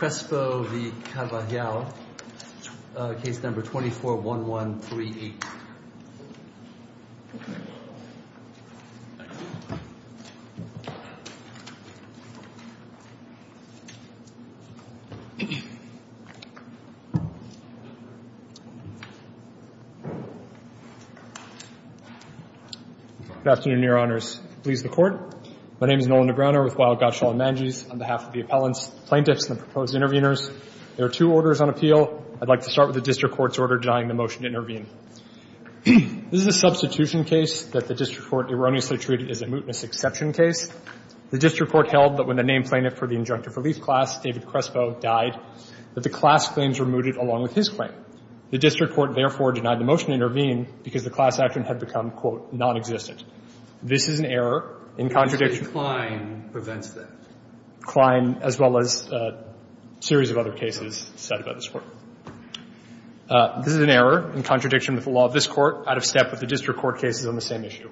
Case No. 241138 Good afternoon, Your Honors, please the court. My name is Nolan Negreanu with Wild, Gottschall & Manges on behalf of the appellants, plaintiffs and the proposed intervenors. There are two orders on appeal. I'd like to start with the district court's order denying the motion to intervene. This is a substitution case that the district court erroneously treated as a mootness exception case. The district court held that when the named plaintiff for the injunctive relief class, David Crespo, died, that the class claims were mooted along with his claim. The district court therefore denied the motion to intervene because the class action had become, quote, nonexistent. This is an error in contradiction. And Judge Klein prevents that. Klein, as well as a series of other cases, said about this Court. This is an error in contradiction with the law of this Court, out of step with the district court cases on the same issue.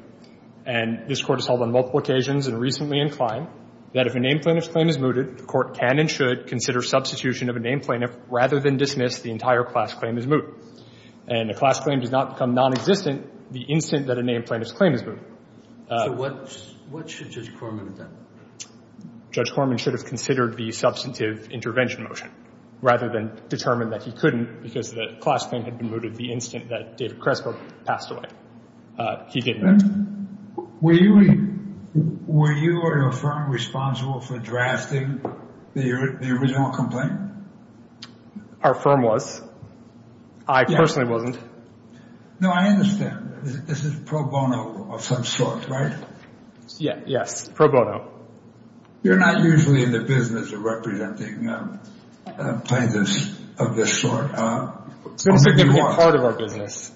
And this Court has held on multiple occasions and recently in Klein that if a named plaintiff's claim is mooted, the Court can and should consider substitution of a named plaintiff rather than dismiss the entire class claim as moot. And a class claim does not become nonexistent the instant that a named plaintiff's claim is mooted. So what should Judge Corman have done? Judge Corman should have considered the substantive intervention motion rather than determine that he couldn't because the class claim had been mooted the instant that David Crespo passed away. He didn't. Were you or your firm responsible for drafting the original complaint? Our firm was. I personally wasn't. No, I understand. This is pro bono of some sort, right? Yes, pro bono. You're not usually in the business of representing plaintiffs of this sort. It's a different part of our business,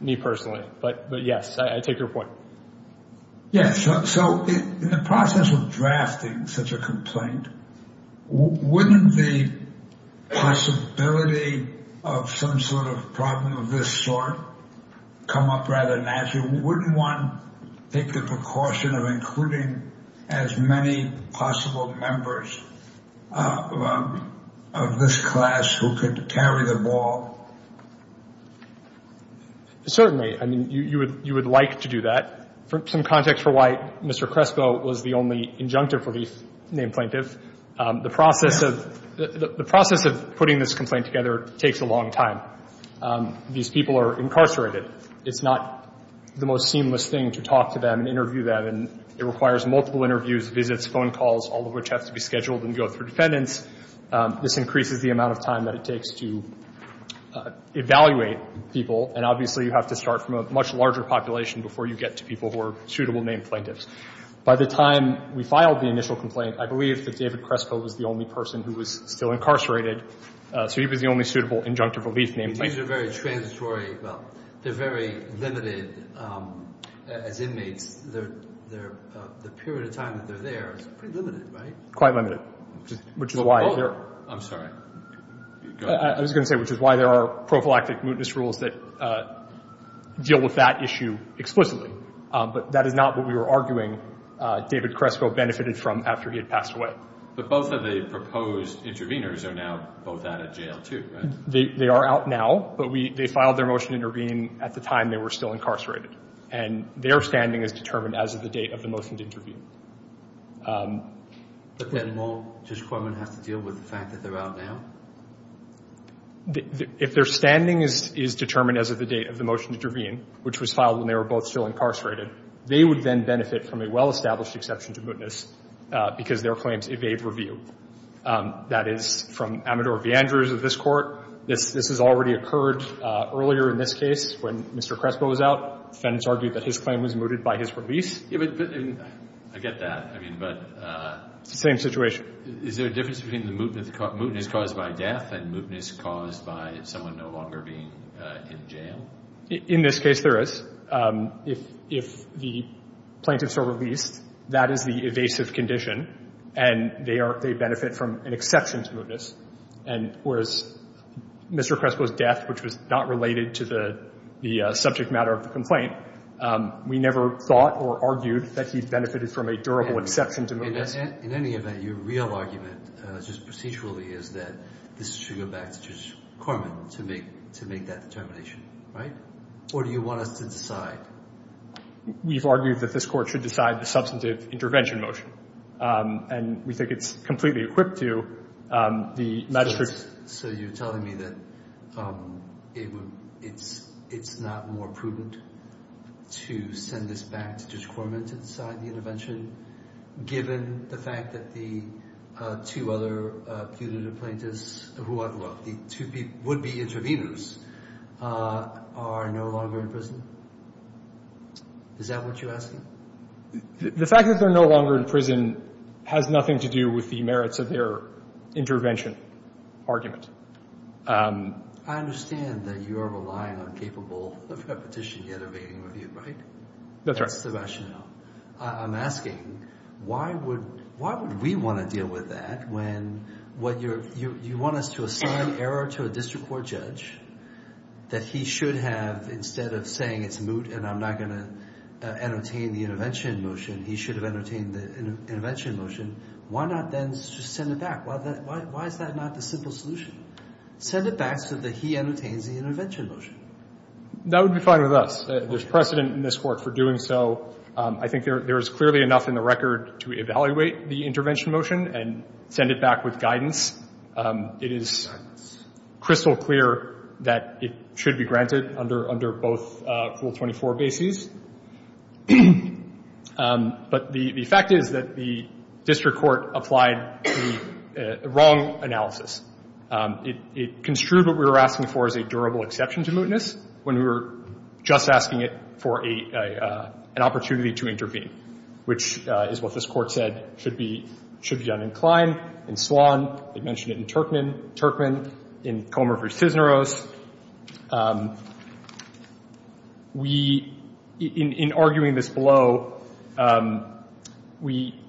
me personally. But yes, I take your point. Yes, so in the process of drafting such a complaint, wouldn't the possibility of some sort of problem of this sort come up rather naturally? Wouldn't one take the precaution of including as many possible members of this class who could carry the ball? Certainly. I mean, you would like to do that. Some context for why Mr. Crespo was the only injunctive relief named plaintiff. The process of putting this complaint together takes a long time. These people are incarcerated. It's not the most seamless thing to talk to them and interview them. And it requires multiple interviews, visits, phone calls, all of which have to be scheduled and go through defendants. This increases the amount of time that it takes to evaluate people. And obviously, you have to start from a much larger population before you get to people who are suitable named plaintiffs. By the time we filed the initial complaint, I believe that David Crespo was the only person who was still incarcerated. So he was the only suitable injunctive relief named plaintiff. These are very transitory. Well, they're very limited as inmates. The period of time that they're there is pretty limited, right? Quite limited, which is why they're. I'm sorry. I was going to say, which is why there are prophylactic mootness rules that deal with that issue explicitly. But that is not what we were arguing David Crespo benefited from after he had passed away. But both of the proposed interveners are now both out of jail, too, right? They are out now. But they filed their motion to intervene at the time they were still incarcerated. And their standing is determined as of the date of the motion to intervene. But then won't Judge Corman have to deal with the fact that they're out now? If their standing is determined as of the date of the motion to intervene, which was filed when they were both still incarcerated, they would then benefit from a well-established exception to mootness because their claims evade review. That is from Amador V. Andrews of this court. This has already occurred earlier in this case when Mr. Crespo was out. Defendants argued that his claim was mooted by his release. I get that. But it's the same situation. Is there a difference between the mootness caused by death and mootness caused by someone no longer being in jail? In this case, there is. If the plaintiffs are released, that is the evasive condition. And they benefit from an exception to mootness. And whereas Mr. Crespo's death, which was not related to the subject matter of the complaint, we never thought or argued that he benefited from a durable exception to mootness. In any event, your real argument, just procedurally, is that this should go back to Judge Corman to make that determination. Right? Or do you want us to decide? We've argued that this court should decide the substantive intervention motion. And we think it's completely equipped to the magistrate's. So you're telling me that it's not more prudent to send this back to Judge Corman to decide the intervention, given the fact that the two other punitive plaintiffs, who are, well, the two would-be interveners, are no longer in prison? Is that what you're asking? The fact that they're no longer in prison has nothing to do with the merits of their intervention argument. I understand that you are relying on capable of repetition yet evading review, right? That's right. That's the rationale. I'm asking, why would we want to deal with that when you want us to assign error to a district court judge that he should have, instead of saying it's moot and I'm not going to entertain the intervention motion, he should have entertained the intervention motion? Why not then just send it back? Why is that not the simple solution? Send it back so that he entertains the intervention motion. That would be fine with us. There's precedent in this court for doing so. I think there is clearly enough in the record to evaluate the intervention motion and send it back with guidance. It is crystal clear that it should be granted under both Rule 24 bases. But the fact is that the district court applied the wrong analysis. It construed what we were asking for as a durable exception to mootness when we were just asking it for an opportunity to intervene, which is what this court said should be uninclined in Swann. They mentioned it in Turkman, in Comer v. Cisneros. We, in arguing this below, we,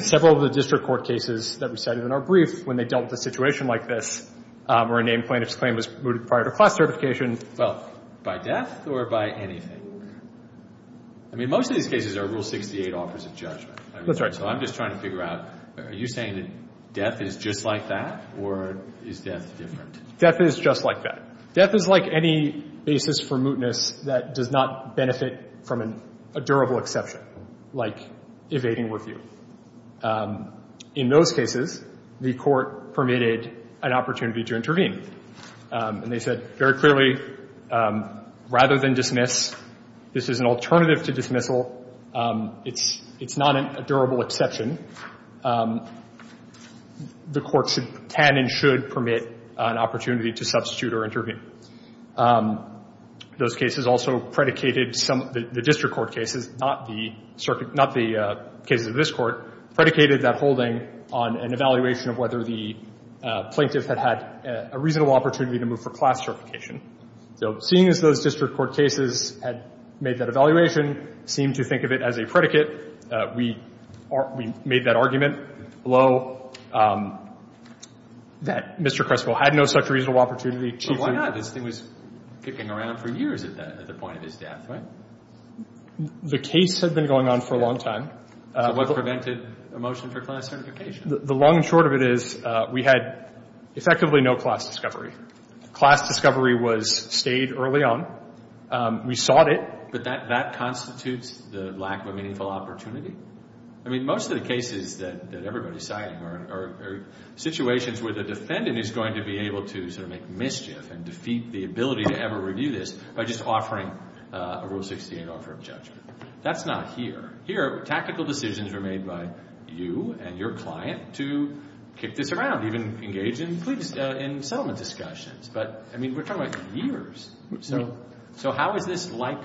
several of the district court cases that we cited in our brief when they dealt with a situation like this where a named plaintiff's claim was mooted prior to class certification, well, by death or by anything? I mean, most of these cases are Rule 68 offers of judgment. That's right. So I'm just trying to figure out, are you saying that death is just like that, or is death different? Death is just like that. Death is like any basis for mootness that does not benefit from a durable exception, like evading review. In those cases, the court permitted an opportunity to intervene. And they said very clearly, rather than dismiss, this is an alternative to dismissal. It's not a durable exception. The court can and should permit an opportunity to substitute or intervene. Those cases also predicated some of the district court cases, not the cases of this court, predicated that holding on an evaluation of whether the plaintiff had a reasonable opportunity to move for class certification. So seeing as those district court cases had made that evaluation, seemed to think of it as a predicate, we made that argument below that Mr. Crespo had no such reasonable opportunity. But why not? This thing was kicking around for years at the point of his death, right? The case had been going on for a long time. What prevented a motion for class certification? The long and short of it is we had effectively no class discovery. Class discovery stayed early on. We sought it. But that constitutes the lack of a meaningful opportunity? I mean, most of the cases that everybody's citing are situations where the defendant is going to be able to make mischief and defeat the ability to ever review this by just offering a Rule 68 offer of judgment. That's not here. Here, tactical decisions were made by you and your client to kick this around, even engage in settlement discussions. But I mean, we're talking about years. So how is this like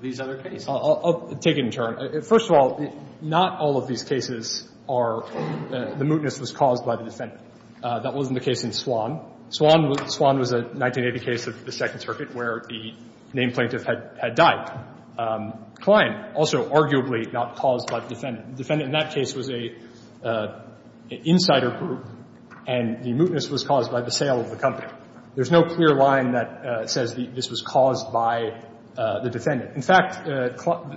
these other cases? I'll take it in turn. First of all, not all of these cases are the mootness was caused by the defendant. That wasn't the case in Swan. Swan was a 1980 case of the Second Circuit where the named plaintiff had died. In fact, Kline, also arguably not caused by the defendant. The defendant in that case was an insider group. And the mootness was caused by the sale of the company. There's no clear line that says this was caused by the defendant. In fact,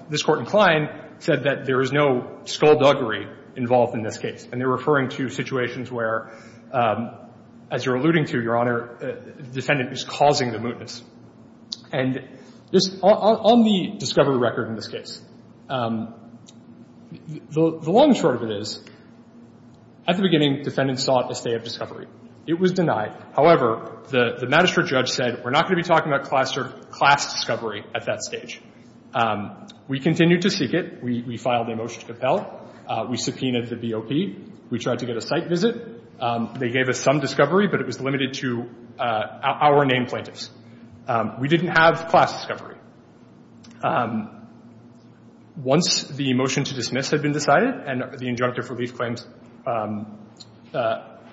this Court in Kline said that there is no skullduggery involved in this case. And they're referring to situations where, as you're alluding to, Your Honor, the defendant is causing the mootness. And on the discovery record in this case, the long and short of it is, at the beginning, defendant sought a stay of discovery. It was denied. However, the magistrate judge said, we're not going to be talking about class discovery at that stage. We continued to seek it. We filed a motion to compel. We subpoenaed the BOP. We tried to get a site visit. They gave us some discovery, but it was limited to our named plaintiffs. We didn't have class discovery. Once the motion to dismiss had been decided and the injunctive relief claims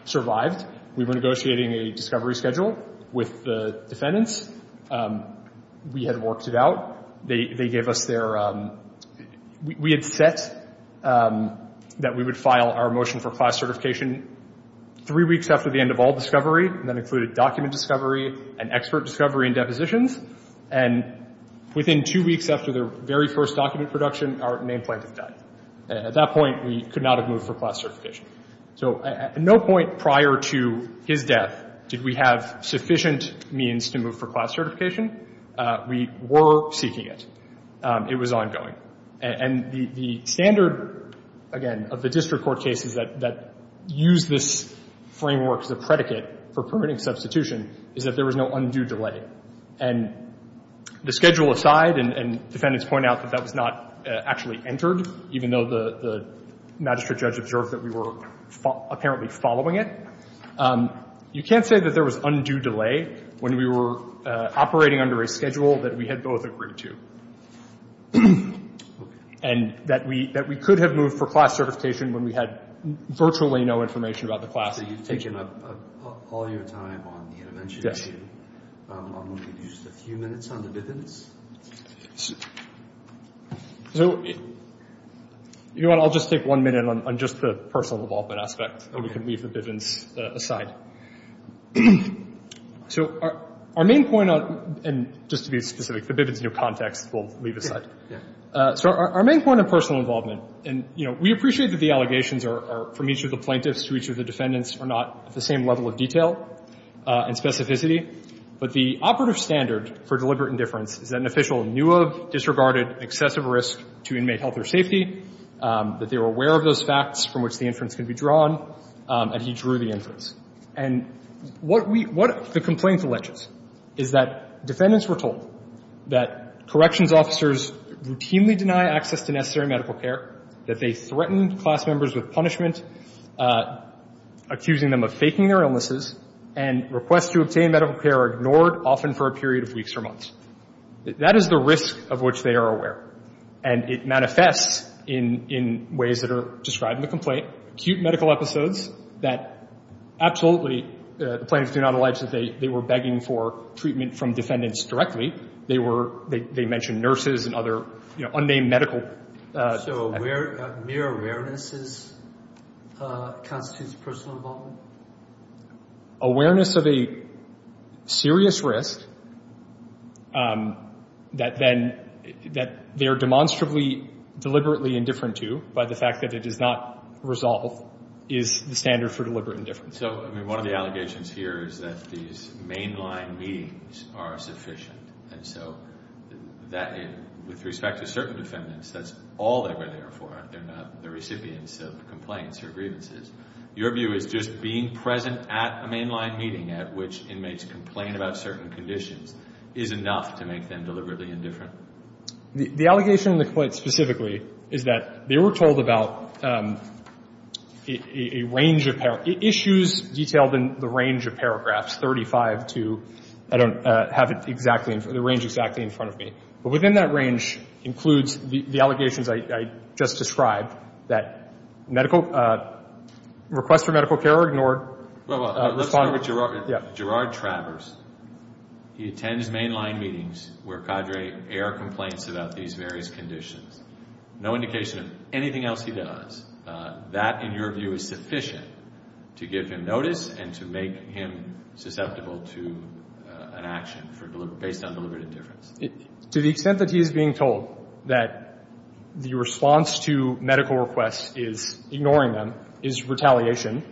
survived, we were negotiating a discovery schedule with the defendants. We had worked it out. They gave us their, we had set that we would file our motion for class certification three weeks after the end of all discovery. That included document discovery and expert discovery and depositions. And within two weeks after their very first document production, our named plaintiff died. At that point, we could not have moved for class certification. So at no point prior to his death did we have sufficient means to move for class certification. We were seeking it. It was ongoing. And the standard, again, of the district court cases that use this framework as a predicate for permitting substitution is that there was no undue delay. And the schedule aside, and defendants point out that that was not actually entered, even though the magistrate judge observed that we were apparently following it. You can't say that there was undue delay when we were operating under a schedule that we had both agreed to. And that we could have moved for class certification when we had virtually no information about the class. So you've taken up all your time on the intervention issue. I'm going to give you just a few minutes on the Bivens. You know what? I'll just take one minute on just the personal involvement aspect. And we can leave the Bivens aside. So our main point on, and just to be specific, the Bivens new context we'll leave aside. So our main point of personal involvement, and we appreciate that the allegations are from each of the plaintiffs to each of the defendants are not at the same level of detail and specificity. But the operative standard for deliberate indifference is that an official knew of, disregarded excessive risk to inmate health or safety, that they were aware of those facts from which the inference can be drawn, and he drew the inference. And what we what the complaint alleges is that defendants were told that corrections officers routinely deny access to necessary medical care, that they threatened class members with punishment, accusing them of faking their illnesses, and requests to obtain medical care are ignored, often for a period of weeks or months. That is the risk of which they are aware. And it manifests in ways that are described in the complaint, acute medical episodes that absolutely the plaintiffs do not allege that they were begging for treatment from defendants directly. They mentioned nurses and other unnamed medical. So mere awareness constitutes personal involvement? Awareness of a serious risk that they are demonstrably deliberately indifferent to, by the fact that it does not resolve, is the standard for deliberate indifference. So one of the allegations here is that these mainline meetings are sufficient. And so with respect to certain defendants, that's all they were there for. They're not the recipients of complaints or grievances. Your view is just being present at a mainline meeting at which inmates complain about certain conditions is enough to make them deliberately indifferent? The allegation in the complaint specifically is that they were told about a range of issues detailed in the range of paragraphs, 35 to, I don't have it exactly, the range exactly in front of me. But within that range includes the allegations I just described, that medical requests for medical care are ignored. Well, let's start with Gerard Travers. He attends mainline meetings where cadre air complaints about these various conditions. No indication of anything else he does. That, in your view, is sufficient to give him notice and to make him susceptible to an action based on deliberate indifference? To the extent that he is being told that the response to medical requests is ignoring them, is retaliation,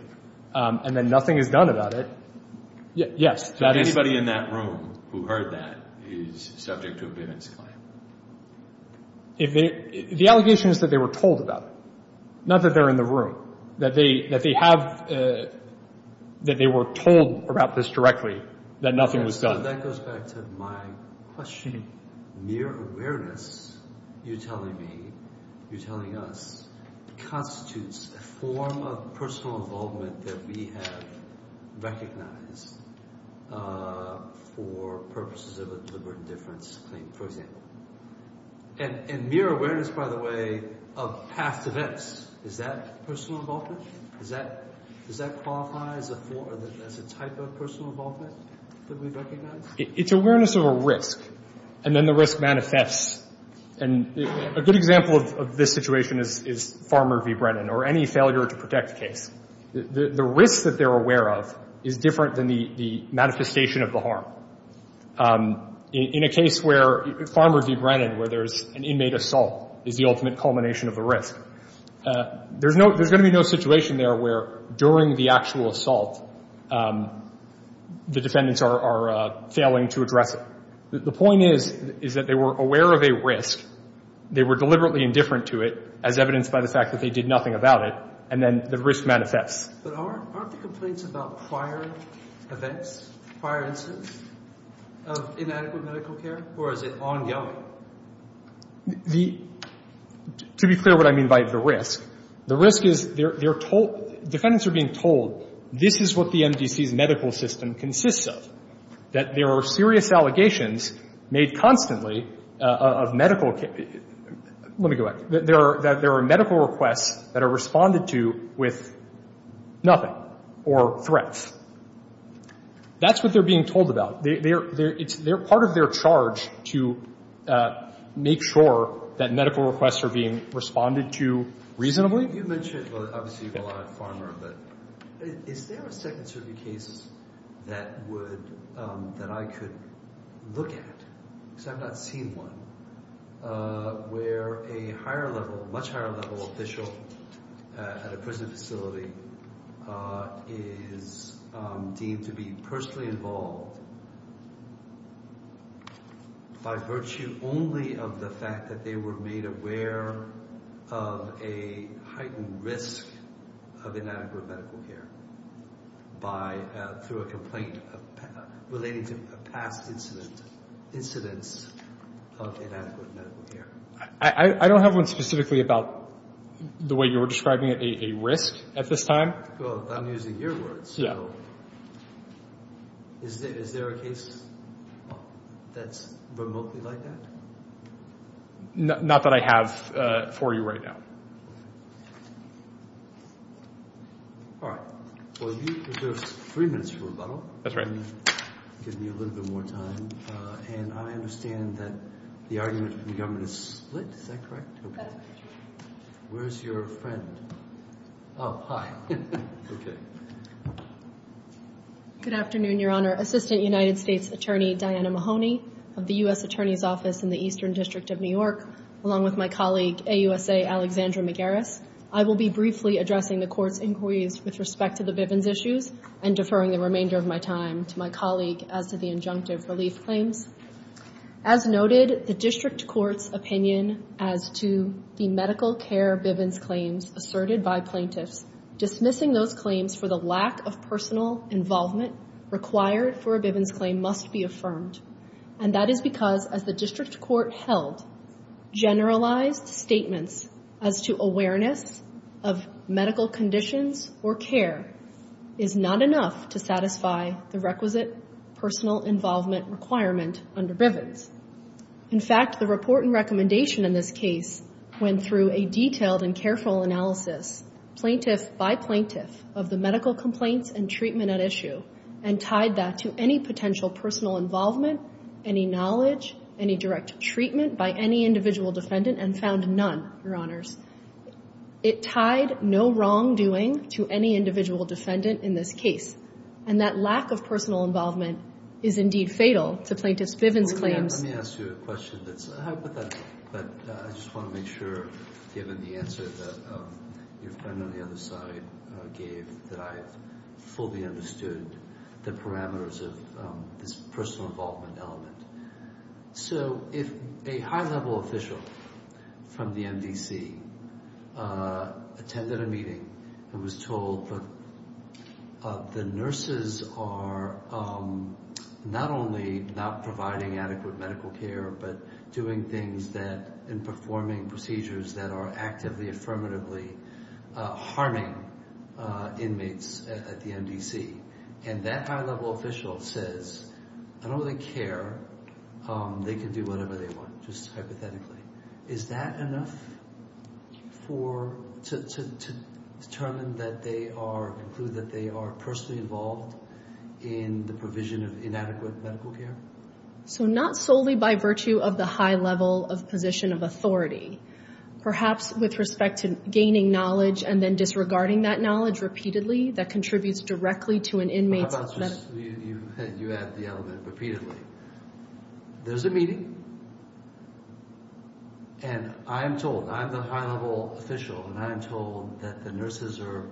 and then nothing is done about it, yes. So anybody in that room who heard that is subject to a bivence claim? The allegation is that they were told about it, not that they're in the room. That they have, that they were told about this directly, that nothing was done. That goes back to my question. Mere awareness, you're telling me, you're telling us, constitutes a form of personal involvement that we have recognized for purposes of a deliberate indifference claim, for example. And mere awareness, by the way, of past events, is that personal involvement? Does that qualify as a type of personal involvement that we recognize? It's awareness of a risk, and then the risk manifests. And a good example of this situation is Farmer v. Brennan, or any failure to protect case. The risk that they're aware of is different than the manifestation of the harm. In a case where Farmer v. Brennan, where there's an inmate assault, is the ultimate culmination of the risk, there's going to be no situation there where, during the actual assault, the defendants are failing to address it. The point is that they were aware of a risk, they were deliberately indifferent to it, as evidenced by the fact that they did nothing about it, and then the risk manifests. But aren't the complaints about prior events, prior incidents of inadequate medical care, or is it ongoing? Now, to be clear what I mean by the risk, the risk is they're told, defendants are being told, this is what the MDC's medical system consists of, that there are serious allegations made constantly of medical care. Let me go back. That there are medical requests that are responded to with nothing, or threats. That's what they're being told about. It's part of their charge to make sure that medical requests are being responded to reasonably. You mentioned, obviously, a lot of farmer, but is there a Second Circuit case that I could look at? Because I've not seen one where a higher level, much higher level official at a prison facility is deemed to be personally involved by virtue only of the fact that they were made aware of a heightened risk of inadequate medical care through a complaint relating to past incidents of inadequate medical care. I don't have one specifically about the way you're describing a risk at this time. Well, I'm using your words. Is there a case that's remotely like that? Not that I have for you right now. All right. Well, you deserve three minutes for rebuttal. That's right. Give me a little bit more time. And I understand that the argument from the government is split, is that correct? That's correct. Where's your friend? Oh, hi. OK. Good afternoon, Your Honor. Assistant United States Attorney Diana Mahoney of the US Attorney's Office in the Eastern District of New York, along with my colleague, AUSA Alexandra Magaris. I will be briefly addressing the court's inquiries with respect to the Bivens issues and deferring the remainder of my time to my colleague as to the injunctive relief claims. As noted, the district court's opinion as to the medical care Bivens claims asserted by plaintiffs, dismissing those claims for the lack of personal involvement required for a Bivens claim must be affirmed. And that is because, as the district court held, generalized statements as to awareness of medical conditions or care is not enough to satisfy the requisite personal involvement requirement under Bivens. In fact, the report and recommendation in this case went through a detailed and careful analysis, plaintiff by plaintiff, of the medical complaints and treatment at issue and tied that to any potential personal involvement, any knowledge, any direct treatment by any individual defendant and found none, Your Honors. It tied no wrongdoing to any individual defendant in this case. And that lack of personal involvement is indeed fatal to plaintiffs' Bivens claims. Let me ask you a question that's a hypothetical, but I just want to make sure, given the answer that your friend on the other side gave, that I fully understood the parameters of this personal involvement element. So if a high-level official from the MDC attended a meeting and was told that the nurses are not only not providing adequate medical care, but doing things and performing procedures that are actively, affirmatively harming inmates at the MDC, and that high-level official says, I don't really care, they can do whatever they want, just hypothetically, is that enough to determine that they are, conclude that they are personally involved in the provision of inadequate medical care? So not solely by virtue of the high level of position of authority. Perhaps with respect to gaining knowledge and then disregarding that knowledge repeatedly that contributes directly to an inmate's medical care. How about you add the element repeatedly? There's a meeting, and I'm told, I'm the high-level official, and I'm told that the nurses are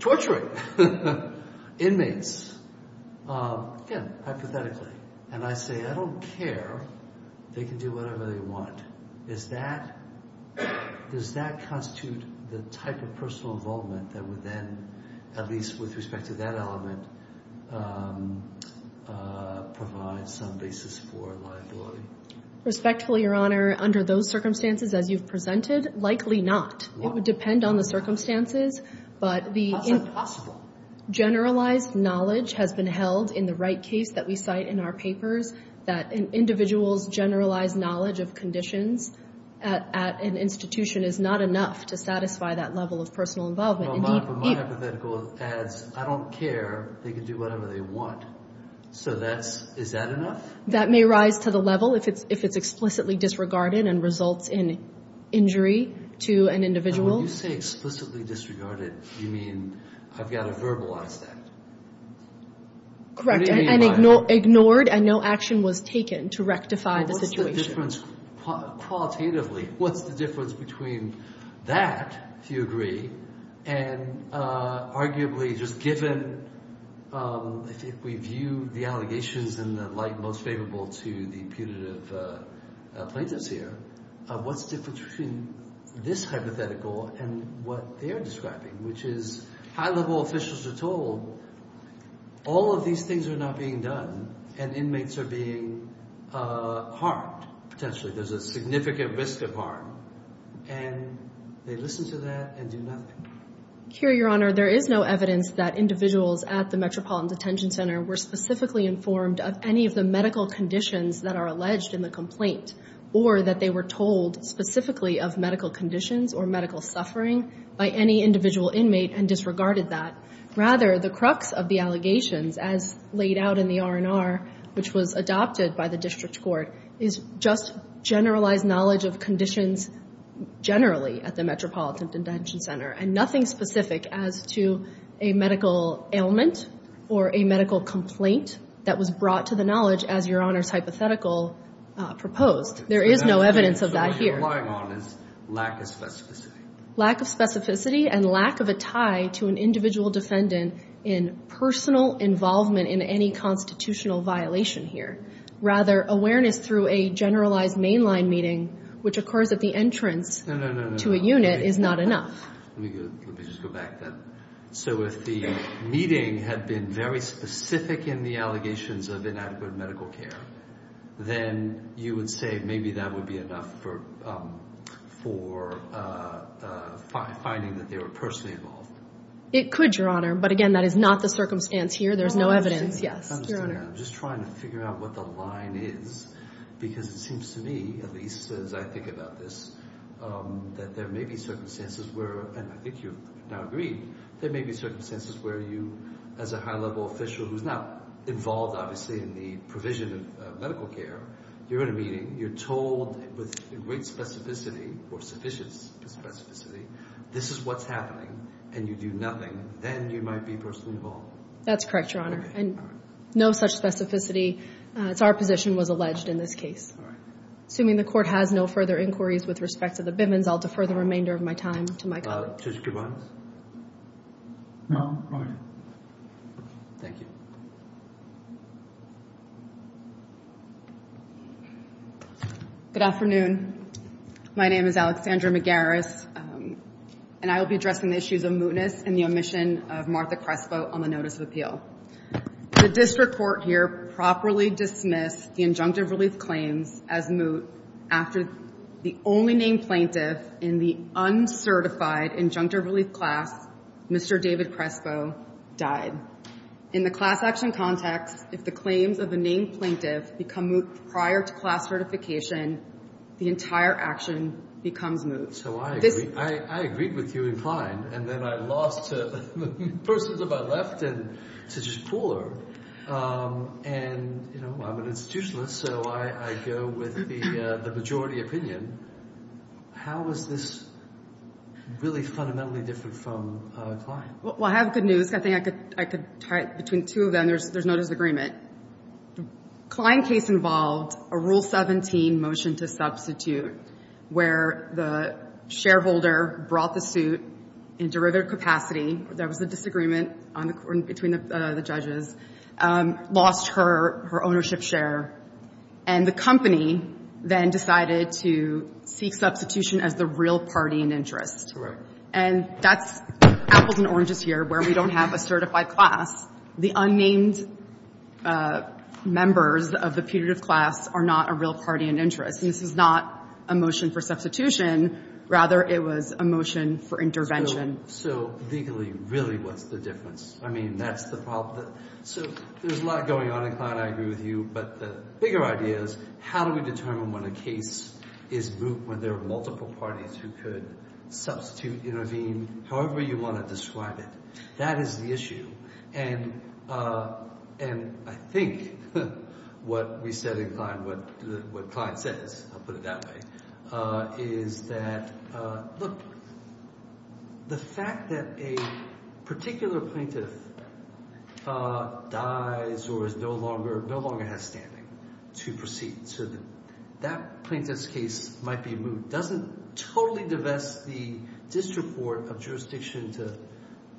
torturing inmates, again, hypothetically. And I say, I don't care. They can do whatever they want. Does that constitute the type of personal involvement that would then, at least with respect to that element, provide some basis for liability? Respectfully, Your Honor, under those circumstances as you've presented, likely not. It would depend on the circumstances, but the generalized knowledge has been held in the right case that we cite in our papers, that an individual's generalized knowledge of conditions at an institution is not enough to satisfy that level of personal involvement. But my hypothetical adds, I don't care. They can do whatever they want. So is that enough? That may rise to the level, if it's explicitly disregarded and results in injury to an individual. And when you say explicitly disregarded, you mean I've got to verbalize that? Correct, and ignored, and no action was taken to rectify the situation. What's the difference, qualitatively, what's the difference between that, if you agree, and arguably just given, if we view the allegations in the light most favorable to the punitive plaintiffs here, what's the difference between this hypothetical and what they're describing, which is high-level officials are told all of these things are not being done, and inmates are being harmed, potentially. There's a significant risk of harm. And they listen to that and do nothing. Here, Your Honor, there is no evidence that individuals at the Metropolitan Detention Center were specifically informed of any of the medical conditions that are alleged in the complaint, or that they were told specifically of medical conditions or medical suffering by any individual inmate and disregarded that. Rather, the crux of the allegations, as laid out in the R&R, which was adopted by the district court, is just generalized knowledge of conditions generally at the Metropolitan Detention Center, and nothing specific as to a medical ailment or a medical complaint that was brought to the knowledge, as Your Honor's hypothetical proposed. There is no evidence of that here. So what you're relying on is lack of specificity. Lack of specificity and lack of a tie to an individual defendant in personal involvement in any constitutional violation here. Rather, awareness through a generalized mainline meeting, which occurs at the entrance to a unit, is not enough. Let me just go back then. So if the meeting had been very specific in the allegations of inadequate medical care, then you would say maybe that would be enough for finding that they were personally involved. It could, Your Honor. But again, that is not the circumstance here. There's no evidence. Yes, Your Honor. I'm just trying to figure out what the line is, because it seems to me, at least as I think about this, that there may be circumstances where, and I think you've now agreed, there may be circumstances where you, as a high-level official who's not involved, obviously, in the provision of medical care, you're in a meeting, you're told with great specificity or sufficient specificity, this is what's happening, and you do nothing, then you might be personally involved. That's correct, Your Honor. No such specificity. It's our position was alleged in this case. Assuming the court has no further inquiries with respect to the Bivens, I'll defer the remainder of my time to my colleague. Judge Bivens? No, I'm fine. Thank you. Good afternoon. My name is Alexandra McGarris, and I will be addressing the issues of mootness and the omission of Martha Crespo on the notice of appeal. The district court here properly dismissed the injunctive relief claims as moot after the only named plaintiff in the uncertified injunctive relief class, Mr. David Crespo, died. In the class action context, if the claims of the named plaintiff become moot prior to class certification, the entire action becomes moot. So I agree. I agreed with you inclined, and then I lost to persons of my left and to just Pooler. And I'm an institutionalist, so I go with the majority opinion. How is this really fundamentally different from Klein? Well, I have good news. I think I could tie it between two of them. There's no disagreement. Klein case involved a Rule 17 motion to substitute, where the shareholder brought the suit in derivative capacity. There was a disagreement between the judges. Lost her ownership share. And the company then decided to seek substitution as the real party in interest. And that's apples and oranges here, where we don't have a certified class. The unnamed members of the putative class are not a real party in interest. And this is not a motion for substitution. Rather, it was a motion for intervention. So legally, really, what's the difference? I mean, that's the problem. So there's a lot going on in Klein, I agree with you. But the bigger idea is, how do we determine when a case is moot, when there are multiple parties who could substitute, intervene, however you want to describe it? That is the issue. And I think what we said in Klein, what Klein says, I'll put it that way, is that, look, the fact that a particular plaintiff dies or is no longer has standing to proceed to that plaintiff's case might be moot doesn't totally divest the district court of jurisdiction to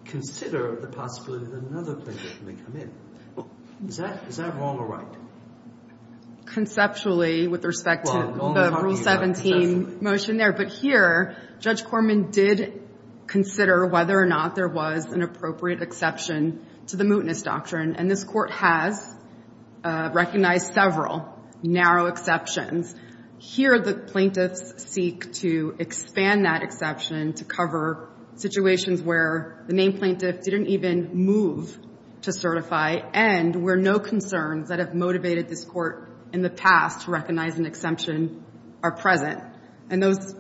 consider the possibility that another plaintiff may come in. Is that wrong or right? Conceptually, with respect to the Rule 17 motion there. But here, Judge Corman did consider whether or not there was an appropriate exception to the mootness doctrine. And this court has recognized several narrow exceptions. Here, the plaintiffs seek to expand that exception to cover situations where the named plaintiff didn't even move to certify, and where no concerns that have motivated this court in the past to recognize an exception are present. And those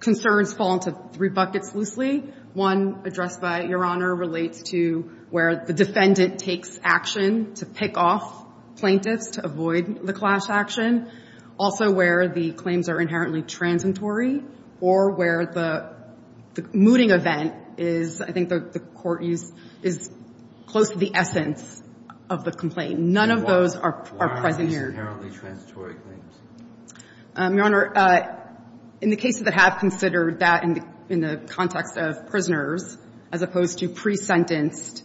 concerns fall into three buckets loosely. One, addressed by Your Honor, relates to where the defendant takes action to pick off plaintiffs to avoid the clash action. Also, where the claims are inherently transitory, or where the mooting event is, I think the court used, is close to the essence of the complaint. None of those are present here. Why are these inherently transitory claims? Your Honor, in the cases that have considered that in the context of prisoners, as opposed to pre-sentenced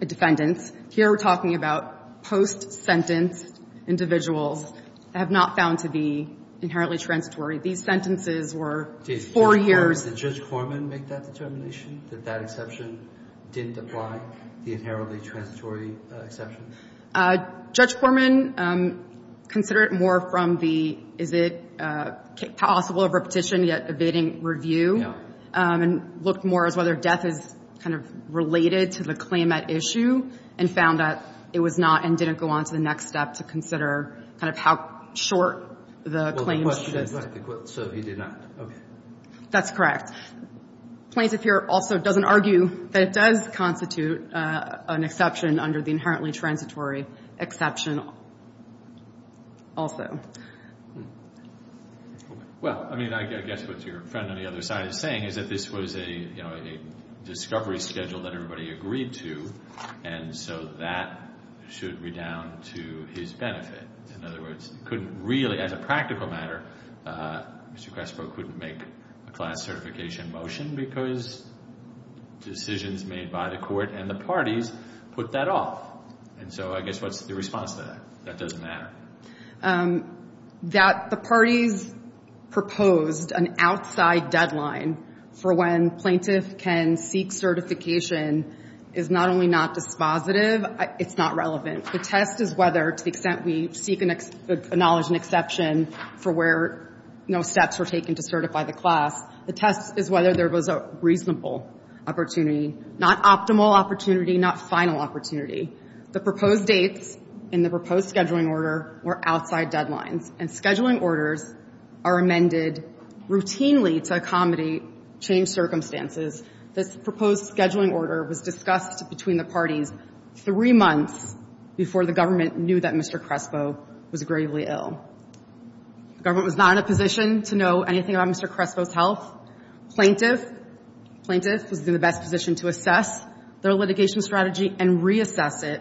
defendants, here we're talking about post-sentenced individuals that have not found to be inherently transitory. These sentences were four years. Did Judge Corman make that determination, that that exception didn't apply, the inherently transitory exception? Judge Corman considered it more from the, is it possible of repetition, yet evading review. And looked more as whether death is kind of related to the claim at issue, and found that it was not, and didn't go on to the next step to consider kind of how short the claim should have been. So he did not, okay. That's correct. Plaintiff here also doesn't argue that it does constitute an exception under the inherently transitory exception also. Well, I mean, I guess what's your friend on the other side is saying is that this was a, you know, a discovery schedule that everybody agreed to, and so that should redound to his benefit. In other words, couldn't really, as a practical matter, Mr. Crespo couldn't make a class certification motion because decisions made by the court and the parties put that off. And so I guess what's the response to that? That doesn't matter. That the parties proposed an outside deadline for when plaintiff can seek certification is not only not dispositive, it's not relevant. The test is whether, to the extent we seek and acknowledge an exception for where, you know, steps were taken to certify the class, the test is whether there was a reasonable opportunity, not optimal opportunity, not final opportunity. The proposed dates in the proposed scheduling order were outside deadlines. And scheduling orders are amended routinely to accommodate changed circumstances. This proposed scheduling order was discussed between the parties three months before the government knew that Mr. Crespo was gravely ill. Government was not in a position to know anything about Mr. Crespo's health. Plaintiff was in the best position to assess their litigation strategy and reassess it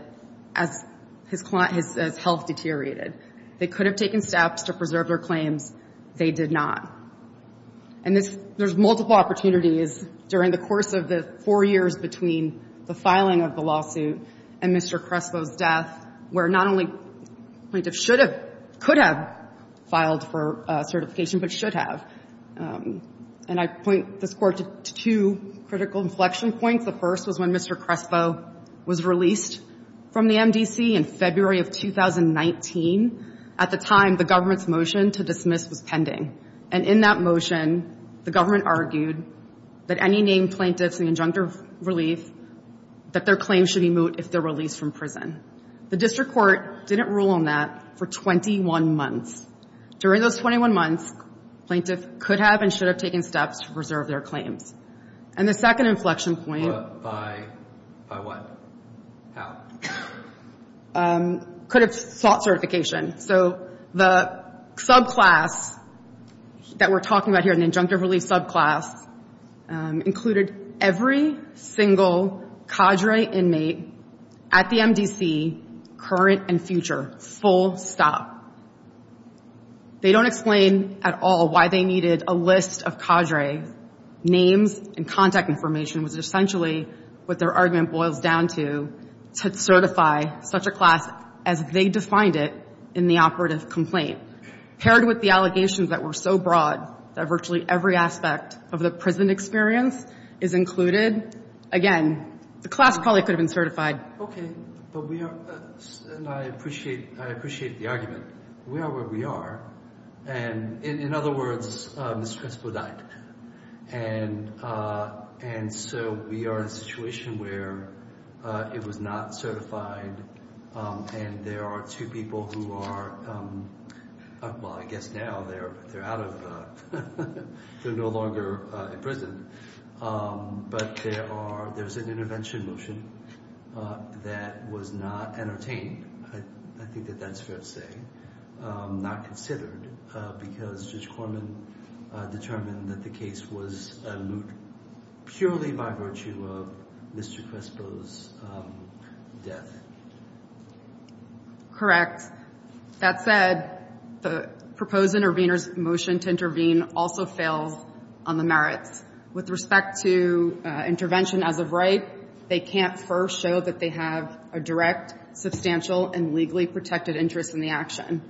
as his health deteriorated. They could have taken steps to preserve their claims. They did not. And there's multiple opportunities during the course of the four years between the filing of the lawsuit and Mr. Crespo's death, where not only plaintiff could have filed for certification, but should have. And I point this court to two critical inflection points. The first was when Mr. Crespo was released from the MDC in February of 2019. At the time, the government's motion to dismiss was pending. And in that motion, the government argued that any named plaintiffs in the injunctive relief, that their claims should be moot if they're released from prison. The district court didn't rule on that for 21 months. During those 21 months, plaintiff could have and should have taken steps to preserve their claims. And the second inflection point- By what? How? Could have sought certification. So the subclass that we're talking about here, an injunctive relief subclass, included every single cadre inmate at the MDC, current and future, full stop. They don't explain at all why they needed a list of cadre names and contact information, which is essentially what their argument boils down to, to certify such a class as they defined it in the operative complaint. Paired with the allegations that were so broad that virtually every aspect of the prison experience is included. Again, the class probably could have been certified. Okay, but we are, and I appreciate the argument. We are where we are. And in other words, Mr. Crespo died. And so we are in a situation where it was not certified. And there are two people who are, well, I guess now they're out of, they're no longer in prison. But there's an intervention motion that was not entertained. I think that that's fair to say. Not considered because Judge Corman determined that the case was moot purely by virtue of Mr. Crespo's death. Correct. That said, the proposed intervener's motion to intervene also fails on the merits. With respect to intervention as of right, they can't first show that they have a direct, substantial, and legally protected interest in the action.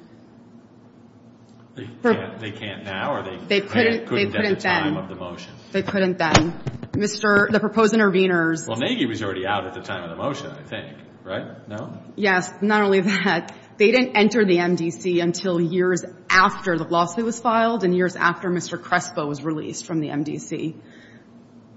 They can't now, or they couldn't at the time of the motion? They couldn't then. Mr., the proposed intervener's. Well, Nagy was already out at the time of the motion, I think, right, no? Yes, not only that, they didn't enter the MDC until years after the lawsuit was filed and years after Mr. Crespo was released from the MDC.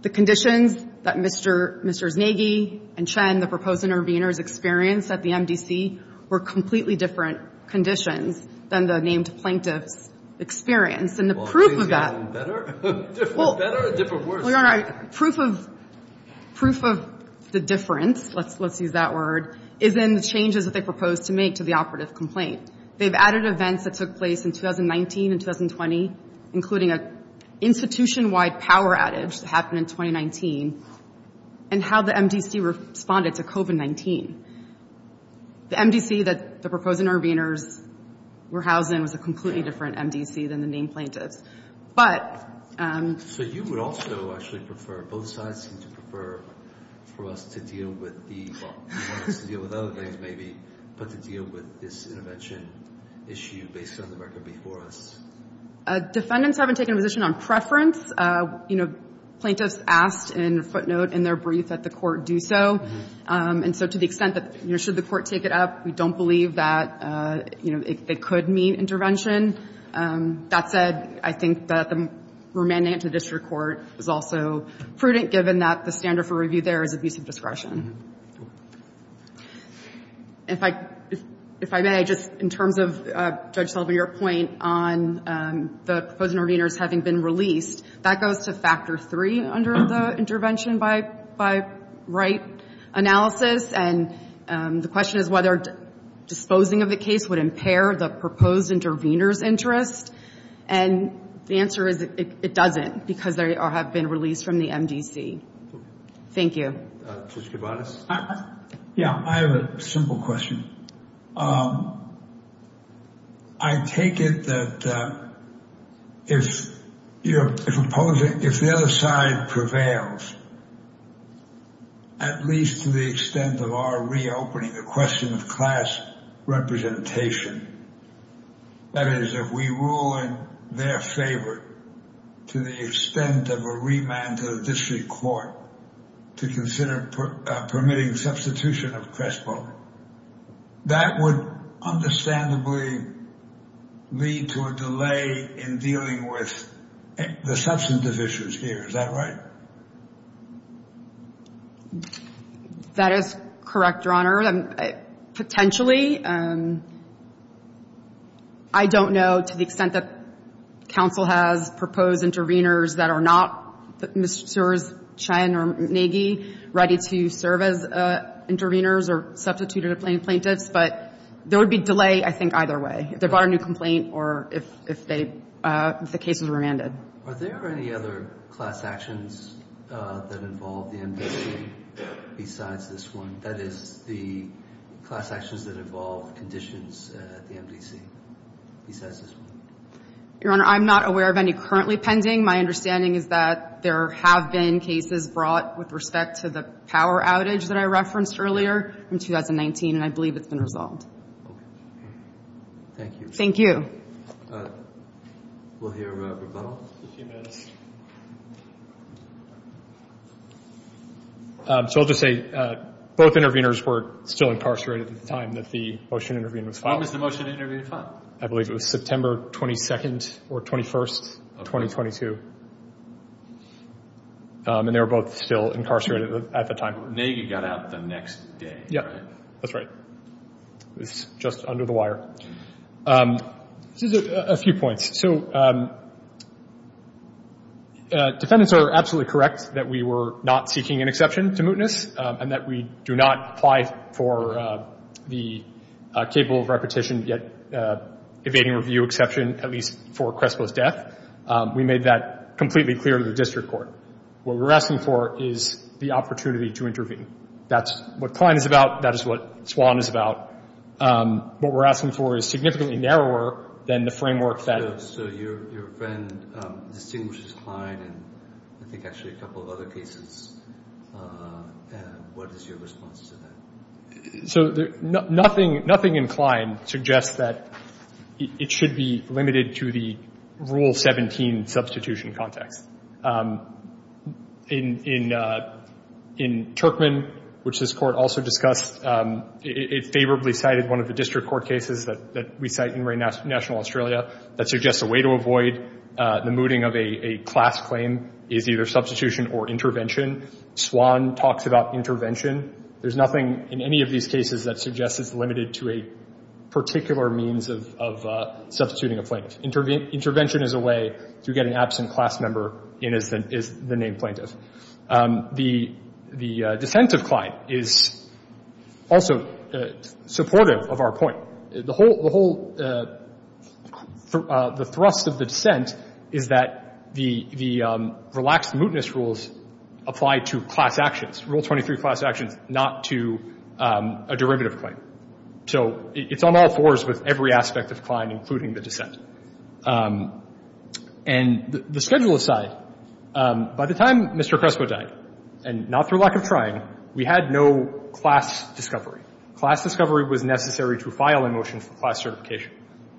The conditions that Mr. Nagy and Chen, the proposed intervener's, experienced at the MDC were completely different conditions than the named plaintiff's experience. And the proof of that. Well, has it gotten better? Different better or different worse? Well, Your Honor, proof of the difference, let's use that word, is in the changes that they proposed to make to the operative complaint. They've added events that took place in 2019 and 2020, including an institution-wide power adage that happened in 2019, and how the MDC responded to COVID-19. The MDC that the proposed intervener's were housed in was a completely different MDC than the named plaintiff's. But... So you would also actually prefer, both sides seem to prefer for us to deal with the, well, for us to deal with other things maybe, but to deal with this intervention issue based on the record before us? Defendants haven't taken a position on preference. You know, plaintiffs asked in footnote in their brief that the court do so. And so to the extent that, you know, should the court take it up? We don't believe that, you know, it could mean intervention. That said, I think that the remanding to district court is also prudent, given that the standard for review there is abuse of discretion. If I may, just in terms of Judge Sullivan, your point on the proposed interveners having been released, that goes to factor three under the intervention by Wright analysis. And the question is whether disposing of the case would impair the proposed intervener's interest. And the answer is it doesn't, because they have been released from the MDC. Thank you. Judge Kovades? Yeah, I have a simple question. I take it that if the other side prevails, at least to the extent of our reopening the question of class representation, that is, if we rule in their favor to the extent of a remand to the district court to consider permitting substitution of Crestbone, that would understandably lead to a delay in dealing with the substantive issues here. Is that right? That is correct, Your Honor. Potentially. I don't know to the extent that counsel has proposed interveners that are not Ms. Sewers, Chen, or McGee ready to serve as interveners or substituted plaintiffs, but there would be delay, I think, either way. If they brought a new complaint or if the cases were remanded. Are there any other class actions that involve the MDC besides this one? That is, the class actions that involve conditions at the MDC besides this one? Your Honor, I'm not aware of any currently pending. My understanding is that there have been cases brought with respect to the power outage that I referenced earlier in 2019, and I believe it's been resolved. Thank you. Thank you. We'll hear McDonnell. A few minutes. So I'll just say, both interveners were still incarcerated at the time that the motion intervened was filed. When was the motion intervened filed? I believe it was September 22nd or 21st, 2022. And they were both still incarcerated at the time. But Nega got out the next day, right? Yeah, that's right. It was just under the wire. Just a few points. So defendants are absolutely correct that we were not seeking an exception to mootness and that we do not apply for the capable of repetition yet evading review exception, at least for Crespo's death. We made that completely clear to the district court. What we're asking for is the opportunity to intervene. That's what Klein is about. That is what Swan is about. What we're asking for is significantly narrower than the framework that- So your friend distinguishes Klein and I think actually a couple of other cases. What is your response to that? So nothing in Klein suggests that it should be limited to the Rule 17 substitution context. In Turkman, which this court also discussed, it favorably cited one of the district court cases that we cite in Marine National Australia that suggests a way to avoid the mooting of a class claim is either substitution or intervention. Swan talks about intervention. There's nothing in any of these cases that suggests it's limited to a particular means of substituting a plaintiff. Intervention is a way to get an absent class member in as the named plaintiff. The dissent of Klein is also supportive of our point. The whole, the thrust of the dissent is that the relaxed mootness rules apply to class actions, Rule 23 class actions, not to a derivative claim. So it's on all fours with every aspect of Klein, including the dissent. And the schedule aside, by the time Mr. Crespo died, and not through lack of trying, we had no class discovery. Class discovery was necessary to file a motion for class certification.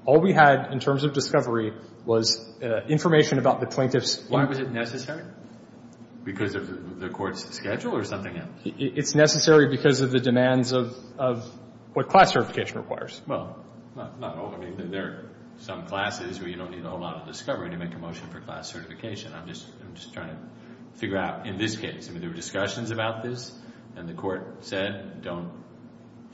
All we had in terms of discovery was information about the plaintiff's- Why was it necessary? Because of the court's schedule or something else? It's necessary because of the demands of what class certification requires. Well, not all, I mean, there are some classes where you don't need a whole lot of discovery to make a motion for class certification. I'm just trying to figure out, in this case, I mean, there were discussions about this, and the court said, don't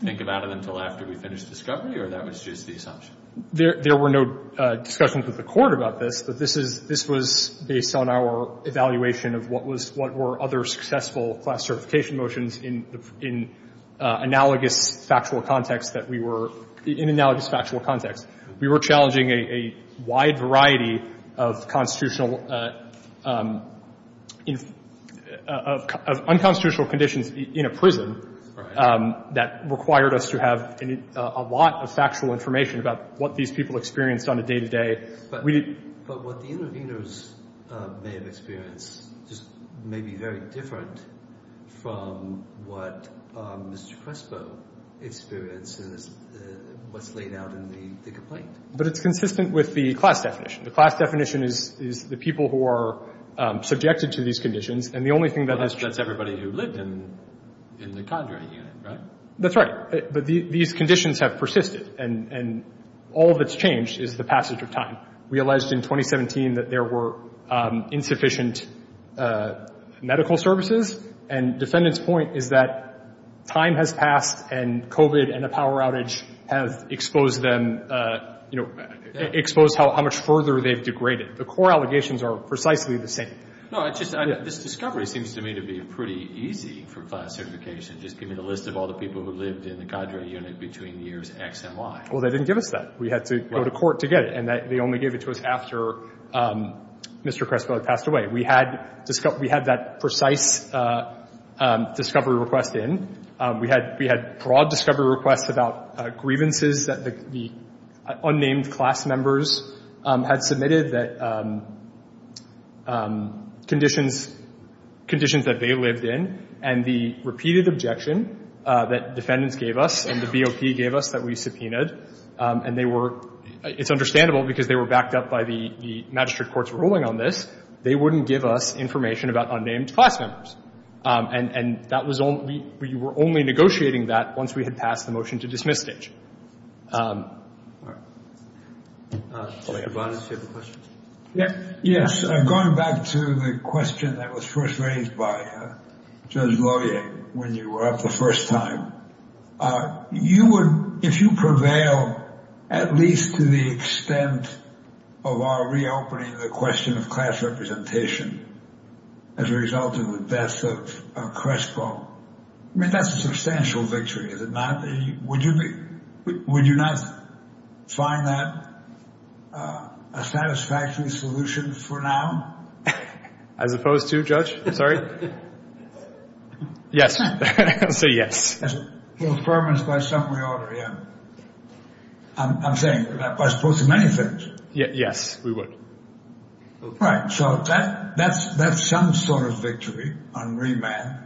think about it until after we finish discovery, or that was just the assumption? There were no discussions with the court about this, but this was based on our evaluation of what were other successful class certification motions in analogous factual context that we were, in analogous factual context. We were challenging a wide variety of constitutional, of unconstitutional conditions in a prison that required us to have a lot of factual information about what these people experienced on a day-to-day. But what the interveners may have experienced just may be very different from what Mr. Crespo experiences, what's laid out in the complaint. But it's consistent with the class definition. The class definition is the people who are subjected to these conditions, and the only thing that has changed. Well, that's everybody who lived in the Condrey unit, right? That's right, but these conditions have persisted, and all that's changed is the passage of time. We alleged in 2017 that there were insufficient medical services, and defendant's point is that time has passed, and COVID and a power outage have exposed them, exposed how much further they've degraded. The core allegations are precisely the same. No, it's just, this discovery seems to me to be pretty easy for class certification. Just give me the list of all the people who lived in the Condrey unit between years X and Y. Well, they didn't give us that. We had to go to court to get it, and they only gave it to us after Mr. Crespo had passed away. We had that precise discovery request in. We had broad discovery requests about grievances that the unnamed class members had submitted that conditions that they lived in, and the repeated objection that defendants gave us, and the BOP gave us that we subpoenaed, and they were, it's understandable because they were backed up by the magistrate court's ruling on this. They wouldn't give us information about unnamed class members, and that was only, we were only negotiating that once we had passed the motion to dismiss Stage. Mr. Kovanes, do you have a question? Yes, going back to the question that was first raised by Judge Lohier when you were up the first time, you would, if you prevail at least to the extent of our reopening the question of class representation as a result of the death of Crespo, I mean, that's a substantial victory, is it not? Would you not find that a satisfactory solution for now? As opposed to, Judge, I'm sorry? Yes, I'll say yes. It was promised by some reorder, yeah. I'm saying that by supposing many things. Yes, we would. Right, so that's some sort of victory on remand.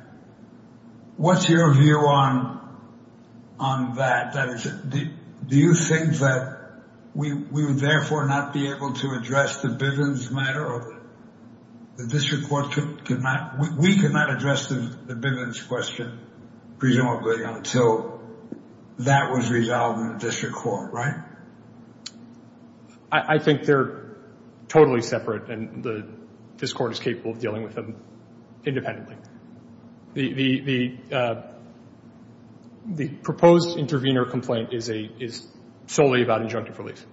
What's your view on that, that is, do you think that we would therefore not be able to address the Bivens matter, or the district court could not, we could not address the Bivens question presumably until that was resolved in the district court, right? I think they're totally separate, and this court is capable of dealing with them independently. The proposed intervener complaint is solely about injunctive release.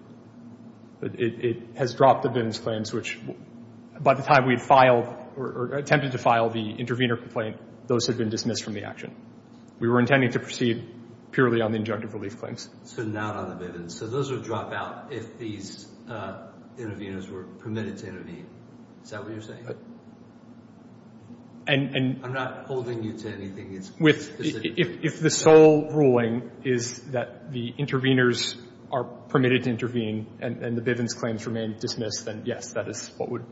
It has dropped the Bivens claims, which by the time we had filed, or attempted to file the intervener complaint, those had been dismissed from the action. We were intending to proceed purely on the injunctive relief claims. So not on the Bivens, so those would drop out if these interveners were permitted to intervene. Is that what you're saying? I'm not holding you to anything specific. If the sole ruling is that the interveners are permitted to intervene, and the Bivens claims remain dismissed, then yes, that is what would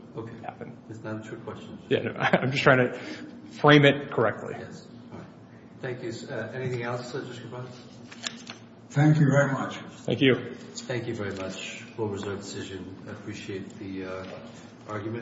happen. That's not a true question. I'm just trying to frame it correctly. Thank you. Anything else, District Attorney? Thank you very much. Thank you. Thank you very much for your decision. I appreciate the argument.